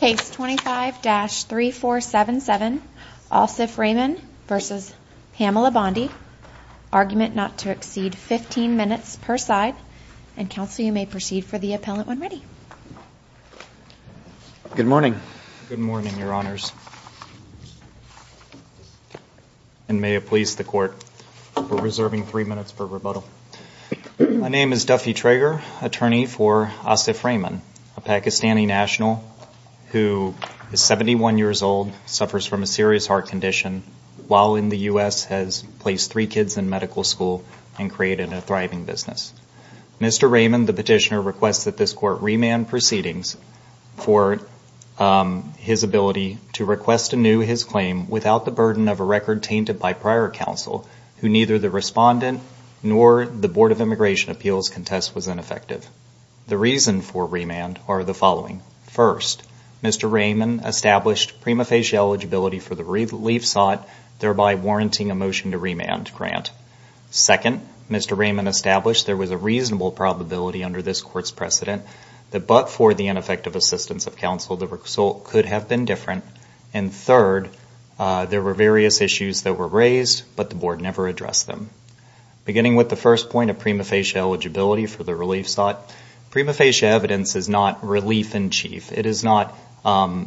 Case 25-3477, Asif Rehman v. Pamela Bondi, argument not to exceed 15 minutes per side, and counsel you may proceed for the appellant when ready. Good morning. Good morning, your honors. And may it please the court, we're reserving three minutes for rebuttal. My name is Duffy Trager, attorney for Asif Rehman, a Pakistani national who is 71 years old, suffers from a serious heart condition, while in the U.S. has placed three kids in medical school and created a thriving business. Mr. Rehman, the petitioner, requests that this court remand proceedings for his ability to request anew his claim without the burden of a record tainted by prior counsel, who neither the respondent nor the Board of Immigration Appeals contest was ineffective. The reason for remand are the following. First, Mr. Rehman established prima facie eligibility for the relief sought, thereby warranting a motion to remand grant. Second, Mr. Rehman established there was a reasonable probability under this court's precedent that but for the ineffective assistance of counsel, the result could have been different. And third, there were various issues that were raised, but the Board never addressed them. Beginning with the first point of prima facie eligibility for the relief sought, prima facie evidence is not relief in chief. It is not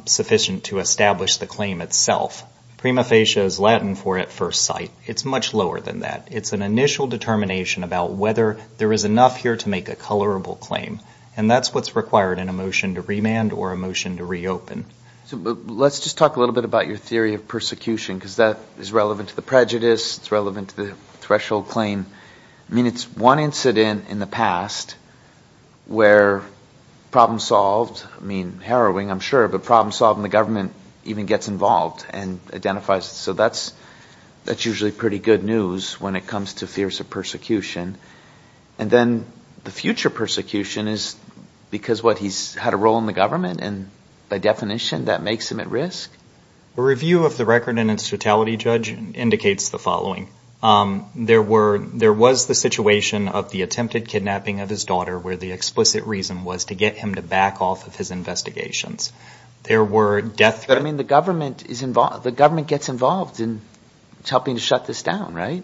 sufficient to establish the claim itself. Prima facie is Latin for at first sight. It's much lower than that. It's an initial determination about whether there is enough here to make a colorable claim. And that's what's required in a motion to remand or a motion to reopen. Let's just talk a little bit about your theory of persecution, because that is relevant to the prejudice. It's relevant to the threshold claim. I mean, it's one incident in the past where problem solved, I mean, harrowing, I'm sure, but problem solved and the government even gets involved and identifies. So that's that's usually pretty good news when it comes to fears of persecution. And then the future persecution is because what he's had a role in the government and by definition that makes him at risk. A review of the record in its totality, Judge, indicates the following. There were there was the situation of the attempted kidnapping of his daughter where the explicit reason was to get him to back off of his investigations. There were death threats. I mean, the government is involved. The government gets involved in helping to shut this down, right?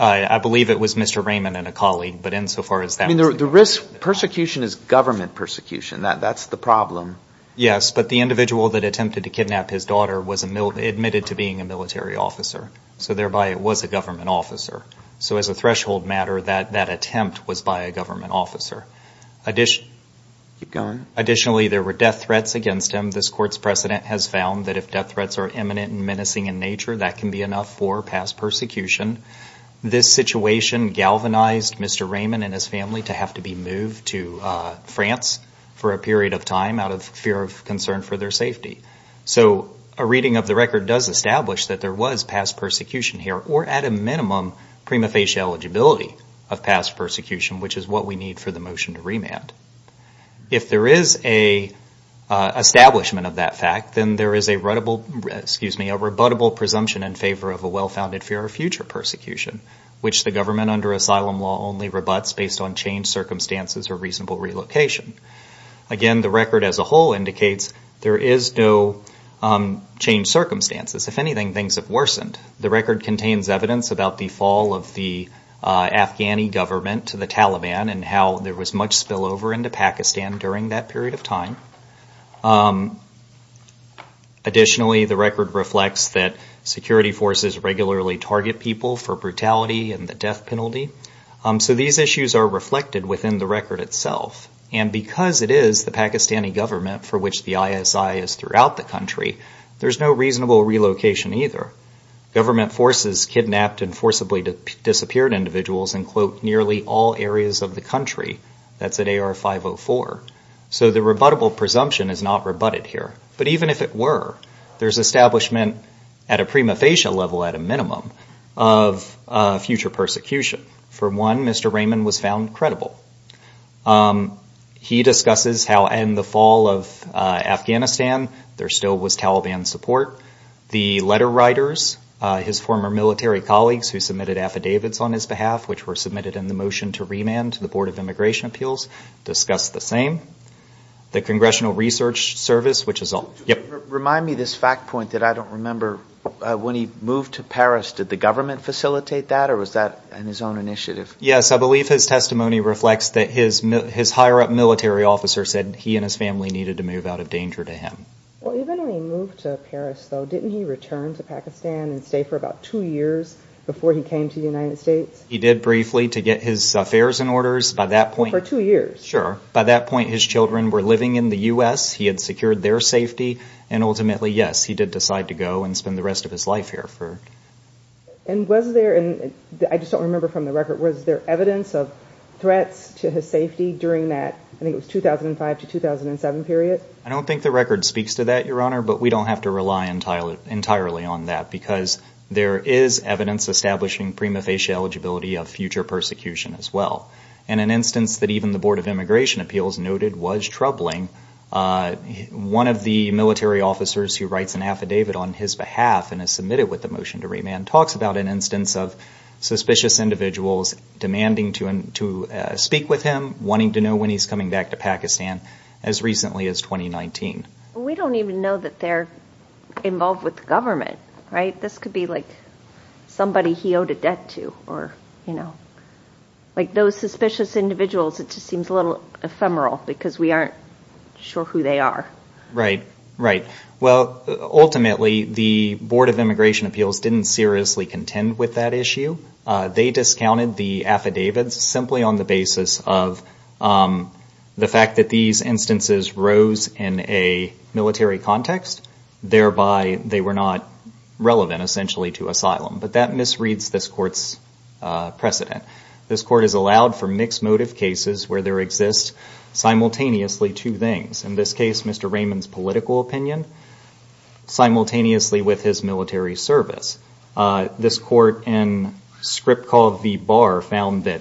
I believe it was Mr. Raymond and a colleague. But insofar as that. I mean, the risk persecution is government persecution. That's the problem. But the individual that attempted to kidnap his daughter was admitted to being a military officer. So thereby it was a government officer. So as a threshold matter, that that attempt was by a government officer. Additionally, there were death threats against him. This court's precedent has found that if death threats are imminent and menacing in nature, that can be enough for past persecution. This situation galvanized Mr. Raymond and his family to have to be moved to France for a period of time out of fear of concern for their safety. So a reading of the record does establish that there was past persecution here or at a minimum prima facie eligibility of past persecution, which is what we need for the motion to remand. If there is a establishment of that fact, then there is a rebuttable presumption in favor of a well-founded fear of future persecution, which the government under asylum law only rebuts based on changed circumstances or reasonable relocation. Again, the record as a whole indicates there is no changed circumstances. If anything, things have worsened. The record contains evidence about the fall of the Afghani government to the Taliban and how there was much spillover into Pakistan during that period of time. Additionally, the record reflects that security forces regularly target people for brutality and the death penalty. So these issues are reflected within the record itself. And because it is the Pakistani government for which the ISI is throughout the country, there is no reasonable relocation either. Government forces kidnapped and forcibly disappeared individuals in, quote, nearly all areas of the country. That's at AR 504. So the rebuttable presumption is not rebutted here. But even if it were, there is establishment at a prima facie level, at a minimum, of future persecution. For one, Mr. Raymond was found credible. He discusses how in the fall of Afghanistan, there still was Taliban support. The letter writers, his former military colleagues who submitted affidavits on his behalf, which were submitted in the motion to remand to the Board of Immigration Appeals, discuss the same. The Congressional Research Service, which is all. Remind me of this fact point that I don't remember. When he moved to Paris, did the government facilitate that or was that on his own initiative? Yes, I believe his testimony reflects that his higher up military officer said he and his family needed to move out of danger to him. Well, even when he moved to Paris, though, didn't he return to Pakistan and stay for about two years before he came to the United States? He did briefly to get his affairs and orders. For two years? By that point, his children were living in the U.S. He had secured their safety and ultimately, yes, he did decide to go and spend the rest of his life here. And was there, I just don't remember from the record, was there evidence of threats to his safety during that, I think it was 2005 to 2007 period? I don't think the record speaks to that, Your Honor, but we don't have to rely entirely on that because there is evidence establishing prima facie eligibility of future persecution as well. In an instance that even the Board of Immigration Appeals noted was troubling, one of the military officers who writes an affidavit on his behalf and is submitted with the motion to remand talks about an instance of suspicious individuals demanding to speak with him, wanting to know when he's coming back to Pakistan as recently as 2019. We don't even know that they're involved with the government, right? This could be like somebody he owed a debt to or, you know, like those suspicious individuals, it just seems a little ephemeral because we aren't sure who they are. Right. Right. Well, ultimately, the Board of Immigration Appeals didn't seriously contend with that issue. They discounted the affidavits simply on the basis of the fact that these instances rose in a military context, thereby they were not relevant, essentially, to asylum. But that misreads this Court's precedent. This Court has allowed for mixed motive cases where there exists simultaneously two things. In this case, Mr. Raymond's political opinion simultaneously with his military service. This Court, in a script called the Bar, found that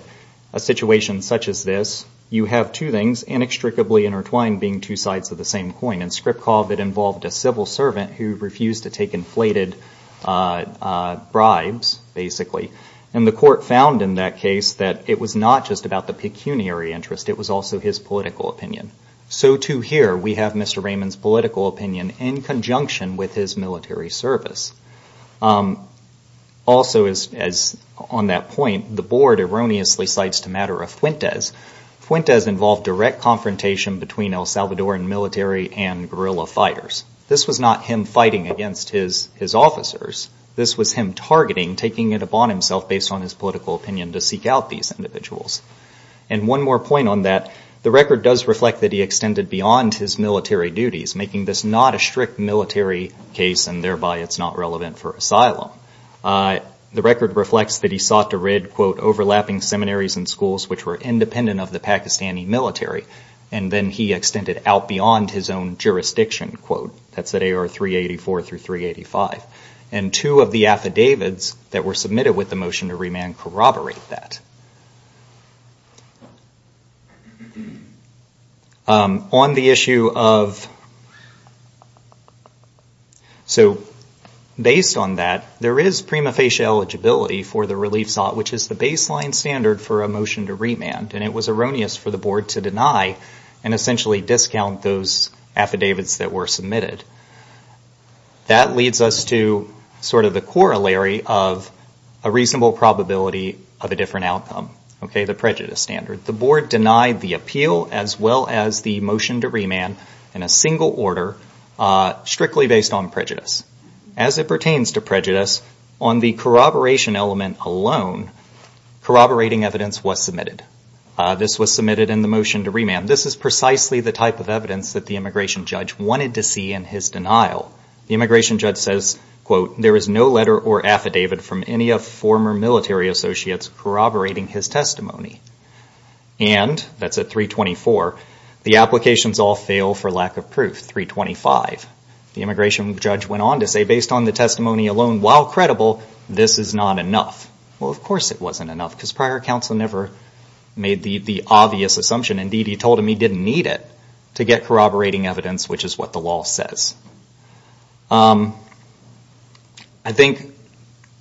a situation such as this, you have two things, inextricably intertwined, being two sides of the same coin. In script call, that involved a civil servant who refused to take inflated bribes, basically. And the Court found in that case that it was not just about the pecuniary interest, it was also his political opinion. So too here, we have Mr. Raymond's political opinion in conjunction with his military service. Also as on that point, the Board erroneously cites the matter of Fuentes. Fuentes involved direct confrontation between El Salvadoran military and guerrilla fighters. This was not him fighting against his officers, this was him targeting, taking it upon himself based on his political opinion to seek out these individuals. And one more point on that, the record does reflect that he extended beyond his military duties, making this not a strict military case and thereby it's not relevant for asylum. The record reflects that he sought to rid, quote, overlapping seminaries and schools which were independent of the Pakistani military. And then he extended out beyond his own jurisdiction, quote, that's at AR 384 through 385. And two of the affidavits that were submitted with the motion to remand corroborate that. On the issue of, so based on that, there is prima facie eligibility for the relief sought which is the baseline standard for a motion to remand and it was erroneous for the Board to deny and essentially discount those affidavits that were submitted. That leads us to sort of the corollary of a reasonable probability of a different outcome, the prejudice standard. The Board denied the appeal as well as the motion to remand in a single order strictly based on prejudice. As it pertains to prejudice, on the corroboration element alone, corroborating evidence was submitted. This was submitted in the motion to remand. This is precisely the type of evidence that the immigration judge wanted to see in his denial. The immigration judge says, quote, there is no letter or affidavit from any of former military associates corroborating his testimony. And that's at 324, the applications all fail for lack of proof, 325. The immigration judge went on to say, based on the testimony alone, while credible, this is not enough. Well, of course it wasn't enough because prior counsel never made the obvious assumption. Indeed, he told him he didn't need it to get corroborating evidence, which is what the law says. I think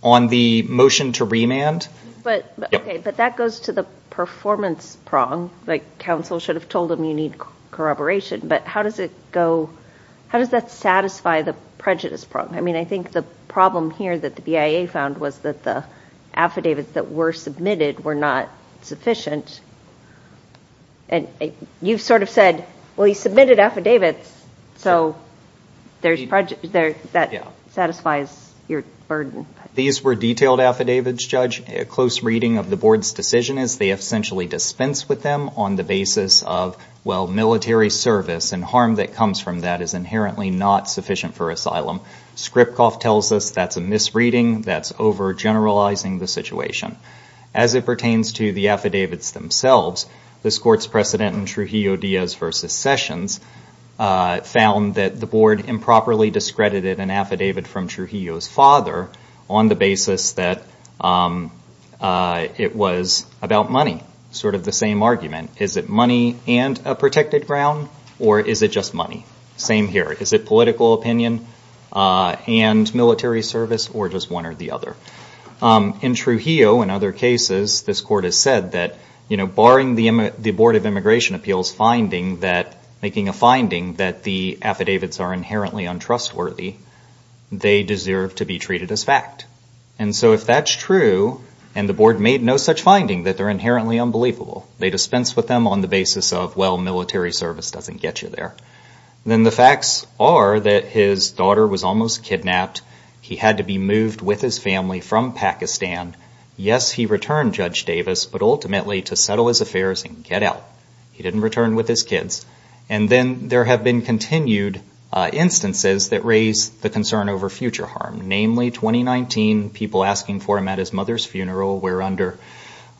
on the motion to remand. Okay, but that goes to the performance prong. Counsel should have told him you need corroboration, but how does that satisfy the prejudice prong? I think the problem here that the BIA found was that the affidavits that were submitted were not sufficient. You sort of said, well, he submitted affidavits, so that satisfies your burden. These were detailed affidavits, Judge. A close reading of the board's decision is they essentially dispensed with them on the basis of, well, military service and harm that comes from that is inherently not sufficient for asylum. Skripkov tells us that's a misreading, that's overgeneralizing the situation. As it pertains to the affidavits themselves, this court's precedent in Trujillo-Diaz versus Sessions found that the board improperly discredited an affidavit from Trujillo's father on the basis that it was about money, sort of the same argument. Is it money and a protected ground, or is it just money? Same here. Is it political opinion and military service, or just one or the other? In Trujillo and other cases, this court has said that barring the Board of Immigration Appeals making a finding that the affidavits are inherently untrustworthy, they deserve to be treated as fact. If that's true, and the board made no such finding that they're inherently unbelievable, they dispense with them on the basis of, well, military service doesn't get you there, then the facts are that his daughter was almost kidnapped, he had to be moved with his family from Pakistan, yes, he returned Judge Davis, but ultimately to settle his affairs and get out. He didn't return with his kids, and then there have been continued instances that raise the concern over future harm, namely, 2019, people asking for him at his mother's funeral, where under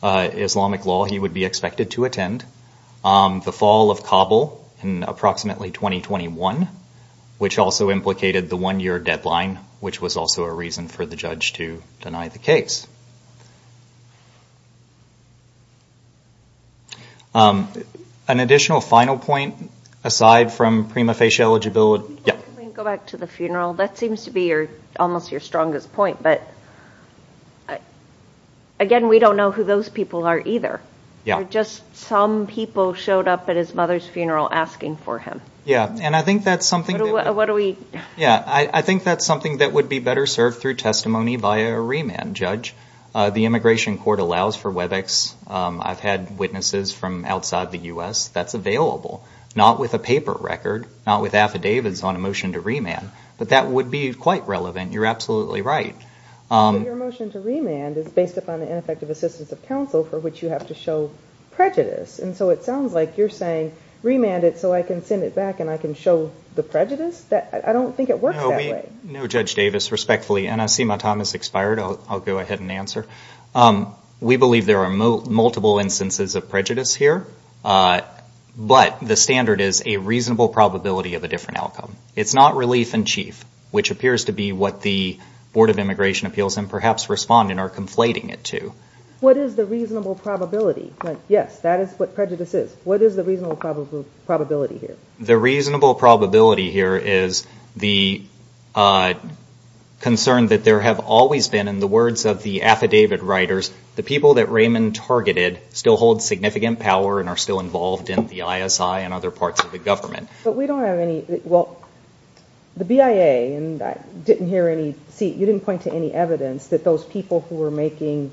Islamic law, he would be expected to attend, the fall of Kabul in approximately 2021, which also implicated the one-year deadline, which was also a reason for the judge to deny the case. An additional final point, aside from prima facie eligibility- Can we go back to the funeral? That seems to be almost your strongest point, but again, we don't know who those people are either. Yeah. Or just some people showed up at his mother's funeral asking for him. Yeah. And I think that's something- What do we- Yeah. I think that's something that would be better served through testimony via remand, Judge. The immigration court allows for WebEx. I've had witnesses from outside the US that's available, not with a paper record, not with affidavits on a motion to remand, but that would be quite relevant. You're absolutely right. But your motion to remand is based upon the ineffective assistance of counsel, for which you have to show prejudice, and so it sounds like you're saying, remand it so I can send it back and I can show the prejudice? I don't think it works that way. No, Judge Davis, respectfully, and I see my time has expired, I'll go ahead and answer. We believe there are multiple instances of prejudice here, but the standard is a reasonable probability of a different outcome. It's not relief in chief, which appears to be what the Board of Immigration Appeals and perhaps Respondent are conflating it to. What is the reasonable probability? Yes, that is what prejudice is. What is the reasonable probability here? The reasonable probability here is the concern that there have always been, in the words of the affidavit writers, the people that Raymond targeted still hold significant power and are still involved in the ISI and other parts of the government. But we don't have any, well, the BIA, and I didn't hear any, you didn't point to any evidence that those people who were making,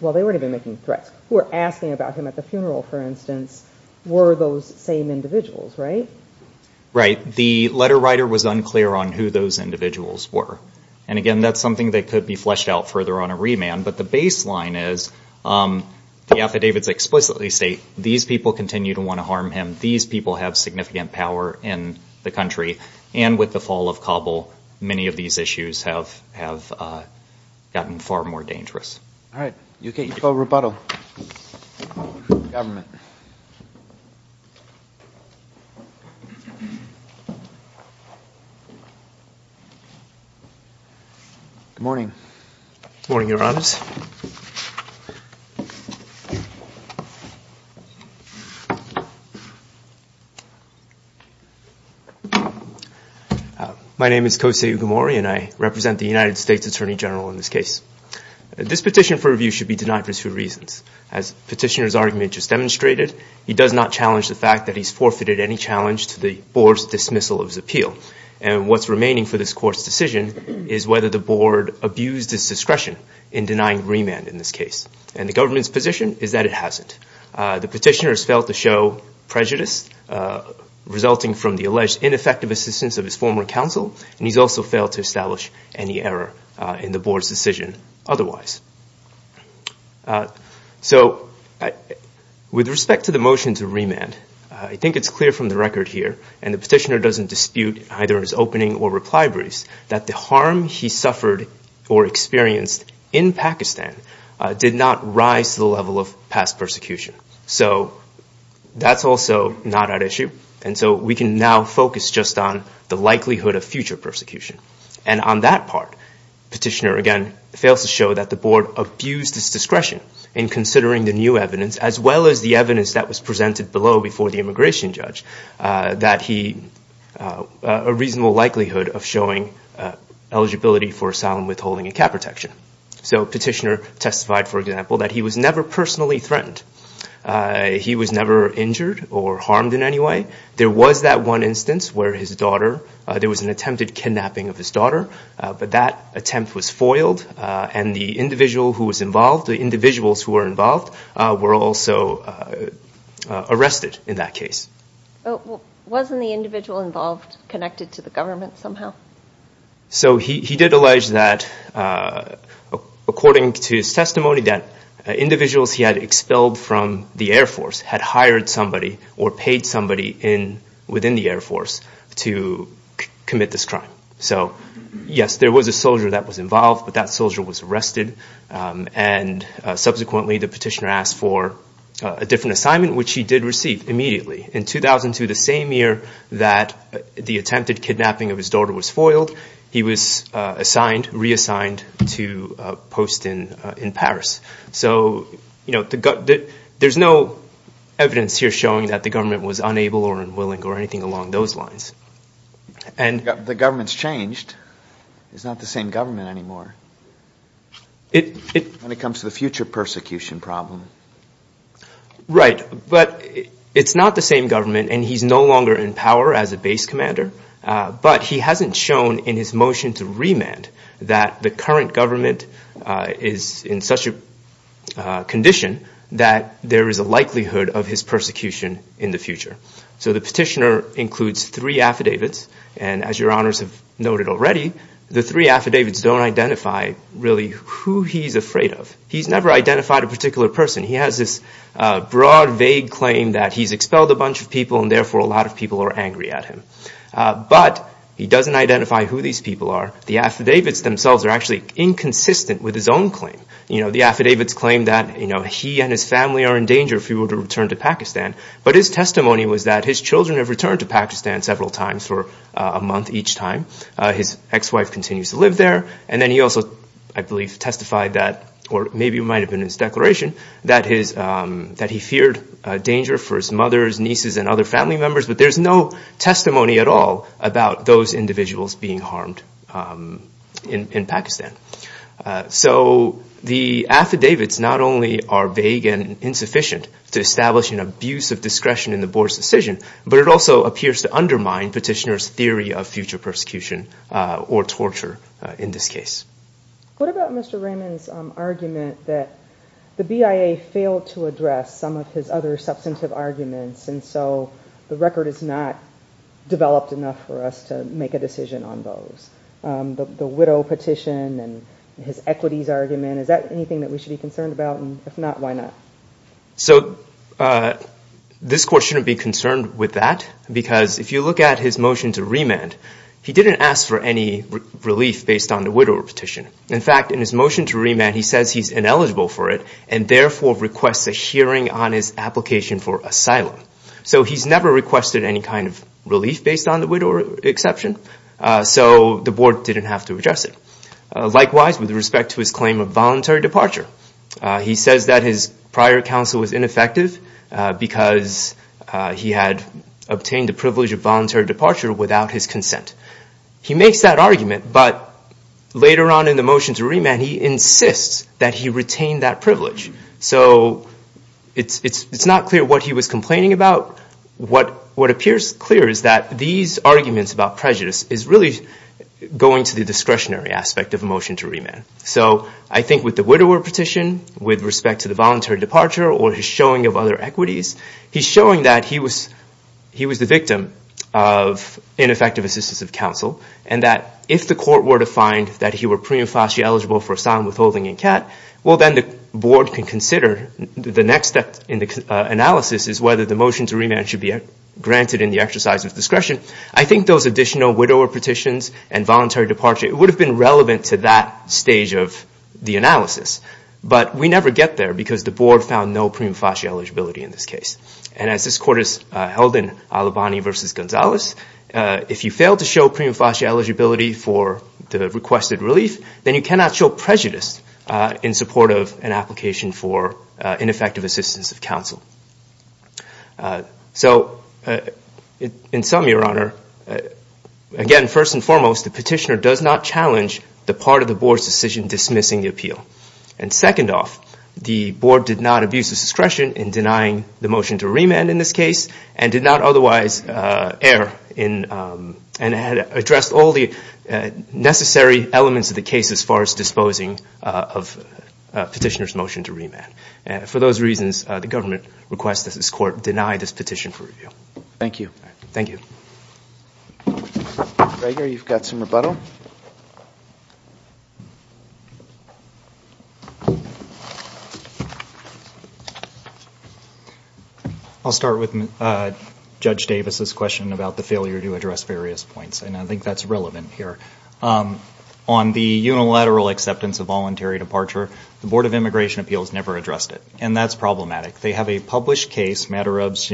well, they weren't even making threats, who were asking about him at the funeral, for instance, were those same individuals, right? Right. The letter writer was unclear on who those individuals were. And again, that's something that could be fleshed out further on a remand, but the baseline is the affidavits explicitly state these people continue to want to harm him, these people have significant power in the country, and with the fall of Kabul, many of these issues have gotten far more dangerous. All right. You'll get your full rebuttal from the government. Good morning. Good morning, Your Honors. My name is Kose Ugamori, and I represent the United States Attorney General in this case. This petition for review should be denied for two reasons. As Petitioner's argument just demonstrated, he does not challenge the fact that he's forfeited any challenge to the Board's dismissal of his appeal. And what's remaining for this court's decision is whether the Board abused its discretion in denying remand in this case. And the government's position is that it hasn't. The Petitioner has failed to show prejudice resulting from the alleged ineffective assistance of his former counsel, and he's also failed to establish any error in the Board's decision otherwise. So with respect to the motion to remand, I think it's clear from the record here, and Petitioner doesn't dispute either in his opening or reply briefs, that the harm he suffered or experienced in Pakistan did not rise to the level of past persecution. So that's also not at issue. And so we can now focus just on the likelihood of future persecution. And on that part, Petitioner, again, fails to show that the Board abused its discretion in considering the new evidence, as well as the evidence that was presented below before the immigration judge, that he, a reasonable likelihood of showing eligibility for asylum withholding and cap protection. So Petitioner testified, for example, that he was never personally threatened. He was never injured or harmed in any way. There was that one instance where his daughter, there was an attempted kidnapping of his daughter, but that attempt was foiled. And the individual who was involved, the individuals who were involved, were also arrested in that case. Oh, well, wasn't the individual involved connected to the government somehow? So he did allege that, according to his testimony, that individuals he had expelled from the Air Force had hired somebody or paid somebody within the Air Force to commit this crime. So yes, there was a soldier that was involved, but that soldier was arrested. And subsequently, the Petitioner asked for a different assignment, which he did receive immediately. In 2002, the same year that the attempted kidnapping of his daughter was foiled, he was assigned, reassigned to a post in Paris. So there's no evidence here showing that the government was unable or unwilling or anything along those lines. The government's changed. It's not the same government anymore when it comes to the future persecution problem. Right. But it's not the same government, and he's no longer in power as a base commander. But he hasn't shown in his motion to remand that the current government is in such a condition that there is a likelihood of his persecution in the future. So the Petitioner includes three affidavits. And as your honors have noted already, the three affidavits don't identify really who he's afraid of. He's never identified a particular person. He has this broad, vague claim that he's expelled a bunch of people and therefore a lot of people are angry at him. But he doesn't identify who these people are. The affidavits themselves are actually inconsistent with his own claim. The affidavits claim that he and his family are in danger if he were to return to Pakistan. But his testimony was that his children have returned to Pakistan several times for a month each time. His ex-wife continues to live there. And then he also, I believe, testified that, or maybe it might have been in his declaration, that he feared danger for his mothers, nieces, and other family members. But there's no testimony at all about those individuals being harmed in Pakistan. So the affidavits not only are vague and insufficient to establish an abuse of discretion in the board's decision, but it also appears to undermine Petitioner's theory of future persecution or torture in this case. What about Mr. Raymond's argument that the BIA failed to address some of his other substantive arguments and so the record is not developed enough for us to make a decision on those? The widow petition and his equities argument, is that anything that we should be concerned about? And if not, why not? So this court shouldn't be concerned with that because if you look at his motion to remand, he didn't ask for any relief based on the widow petition. In fact, in his motion to remand, he says he's ineligible for it and therefore requests a hearing on his application for asylum. So he's never requested any kind of relief based on the widow exception. So the board didn't have to address it. Likewise, with respect to his claim of voluntary departure, he says that his prior counsel was ineffective because he had obtained the privilege of voluntary departure without his consent. He makes that argument, but later on in the motion to remand, he insists that he retain that privilege. So it's not clear what he was complaining about. What appears clear is that these arguments about prejudice is really going to the discretionary aspect of a motion to remand. So I think with the widower petition, with respect to the voluntary departure, or his showing of other equities, he's showing that he was the victim of ineffective assistance of counsel, and that if the court were to find that he were pre and foster eligible for asylum withholding in CAT, well then the board can consider the next step in the analysis is whether the motion to remand should be granted in the exercise of discretion. I think those additional widower petitions and voluntary departure, it would have been relevant to that stage of the analysis, but we never get there because the board found no pre and foster eligibility in this case. And as this court is held in Alabani v. Gonzalez, if you fail to show pre and foster eligibility for the requested relief, then you cannot show prejudice in support of an application for ineffective assistance of counsel. So in sum, Your Honor, again, first and foremost, the petitioner does not challenge the part of the board's decision dismissing the appeal. And second off, the board did not abuse its discretion in denying the motion to remand in this case, and did not otherwise err and address all the necessary elements of the remand. For those reasons, the government requests that this court deny this petition for review. Thank you. Thank you. Gregor, you've got some rebuttal. I'll start with Judge Davis's question about the failure to address various points, and I think that's relevant here. On the unilateral acceptance of voluntary departure, the Board of Immigration Appeals never addressed it, and that's problematic. They have a published case, Madurov's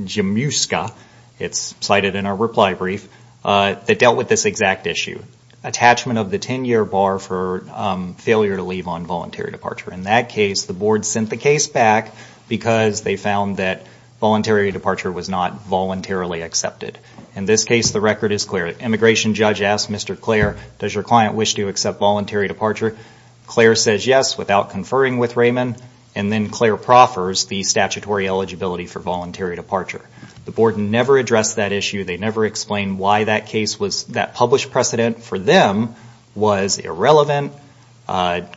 Jemuska, it's cited in our reply brief, that dealt with this exact issue, attachment of the 10-year bar for failure to leave on voluntary departure. In that case, the board sent the case back because they found that voluntary departure was not voluntarily accepted. In this case, the record is clear. The immigration judge asked Mr. Clare, does your client wish to accept voluntary departure? Clare says yes without conferring with Raymond, and then Clare proffers the statutory eligibility for voluntary departure. The board never addressed that issue, they never explained why that case was, that published precedent for them was irrelevant,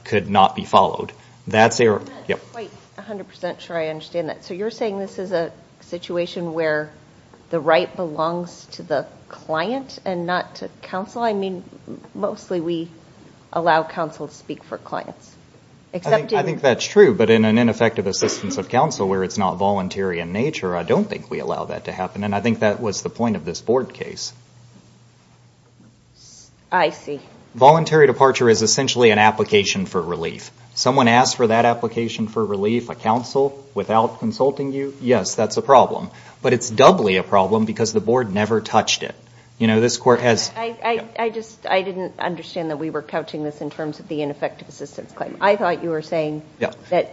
could not be followed. That's error. I'm not quite 100% sure I understand that. You're saying this is a situation where the right belongs to the client and not to counsel? Mostly we allow counsel to speak for clients. I think that's true, but in an ineffective assistance of counsel where it's not voluntary in nature, I don't think we allow that to happen. I think that was the point of this board case. Voluntary departure is essentially an application for relief. Someone asked for that application for relief, a counsel, without consulting you, yes, that's a problem. But it's doubly a problem because the board never touched it. This court has... I didn't understand that we were couching this in terms of the ineffective assistance claim. I thought you were saying that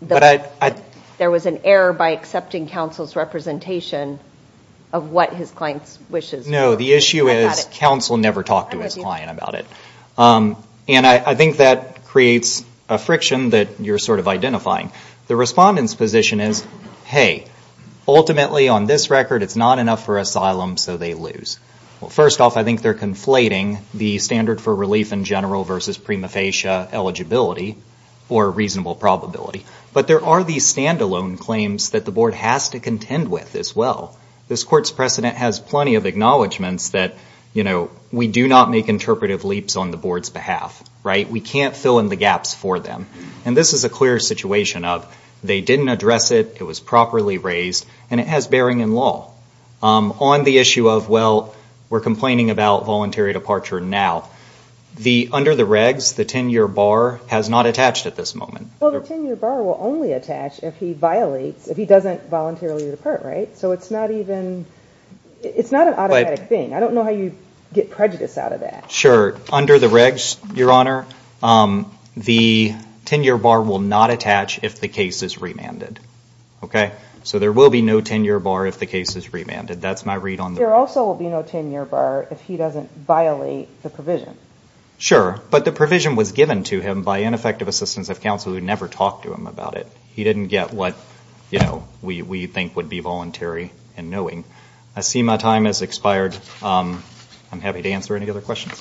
there was an error by accepting counsel's representation of what his client's wishes were. No, the issue is counsel never talked to his client about it. I think that creates a friction that you're sort of identifying. The respondent's position is, hey, ultimately on this record it's not enough for asylum so they lose. First off, I think they're conflating the standard for relief in general versus prima facie eligibility or reasonable probability. But there are these standalone claims that the board has to contend with as well. This court's precedent has plenty of acknowledgments that we do not make interpretive leaps on the board's behalf. We can't fill in the gaps for them. This is a clear situation of they didn't address it, it was properly raised, and it has bearing in law. On the issue of, well, we're complaining about voluntary departure now. Under the regs, the 10-year bar has not attached at this moment. Well, the 10-year bar will only attach if he violates, if he doesn't voluntarily depart, so it's not even... It's not an automatic thing. I don't know how you get prejudice out of that. Sure. Under the regs, Your Honor, the 10-year bar will not attach if the case is remanded. So there will be no 10-year bar if the case is remanded. That's my read on the... There also will be no 10-year bar if he doesn't violate the provision. Sure. But the provision was given to him by ineffective assistance of counsel who never talked to him about it. He didn't get what we think would be voluntary in knowing. I see my time has expired. I'm happy to answer any other questions.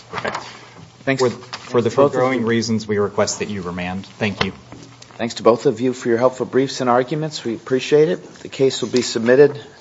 Thanks. For the foregoing reasons, we request that you remand. Thank you. Thanks to both of you for your helpful briefs and arguments. We appreciate it. The case will be submitted.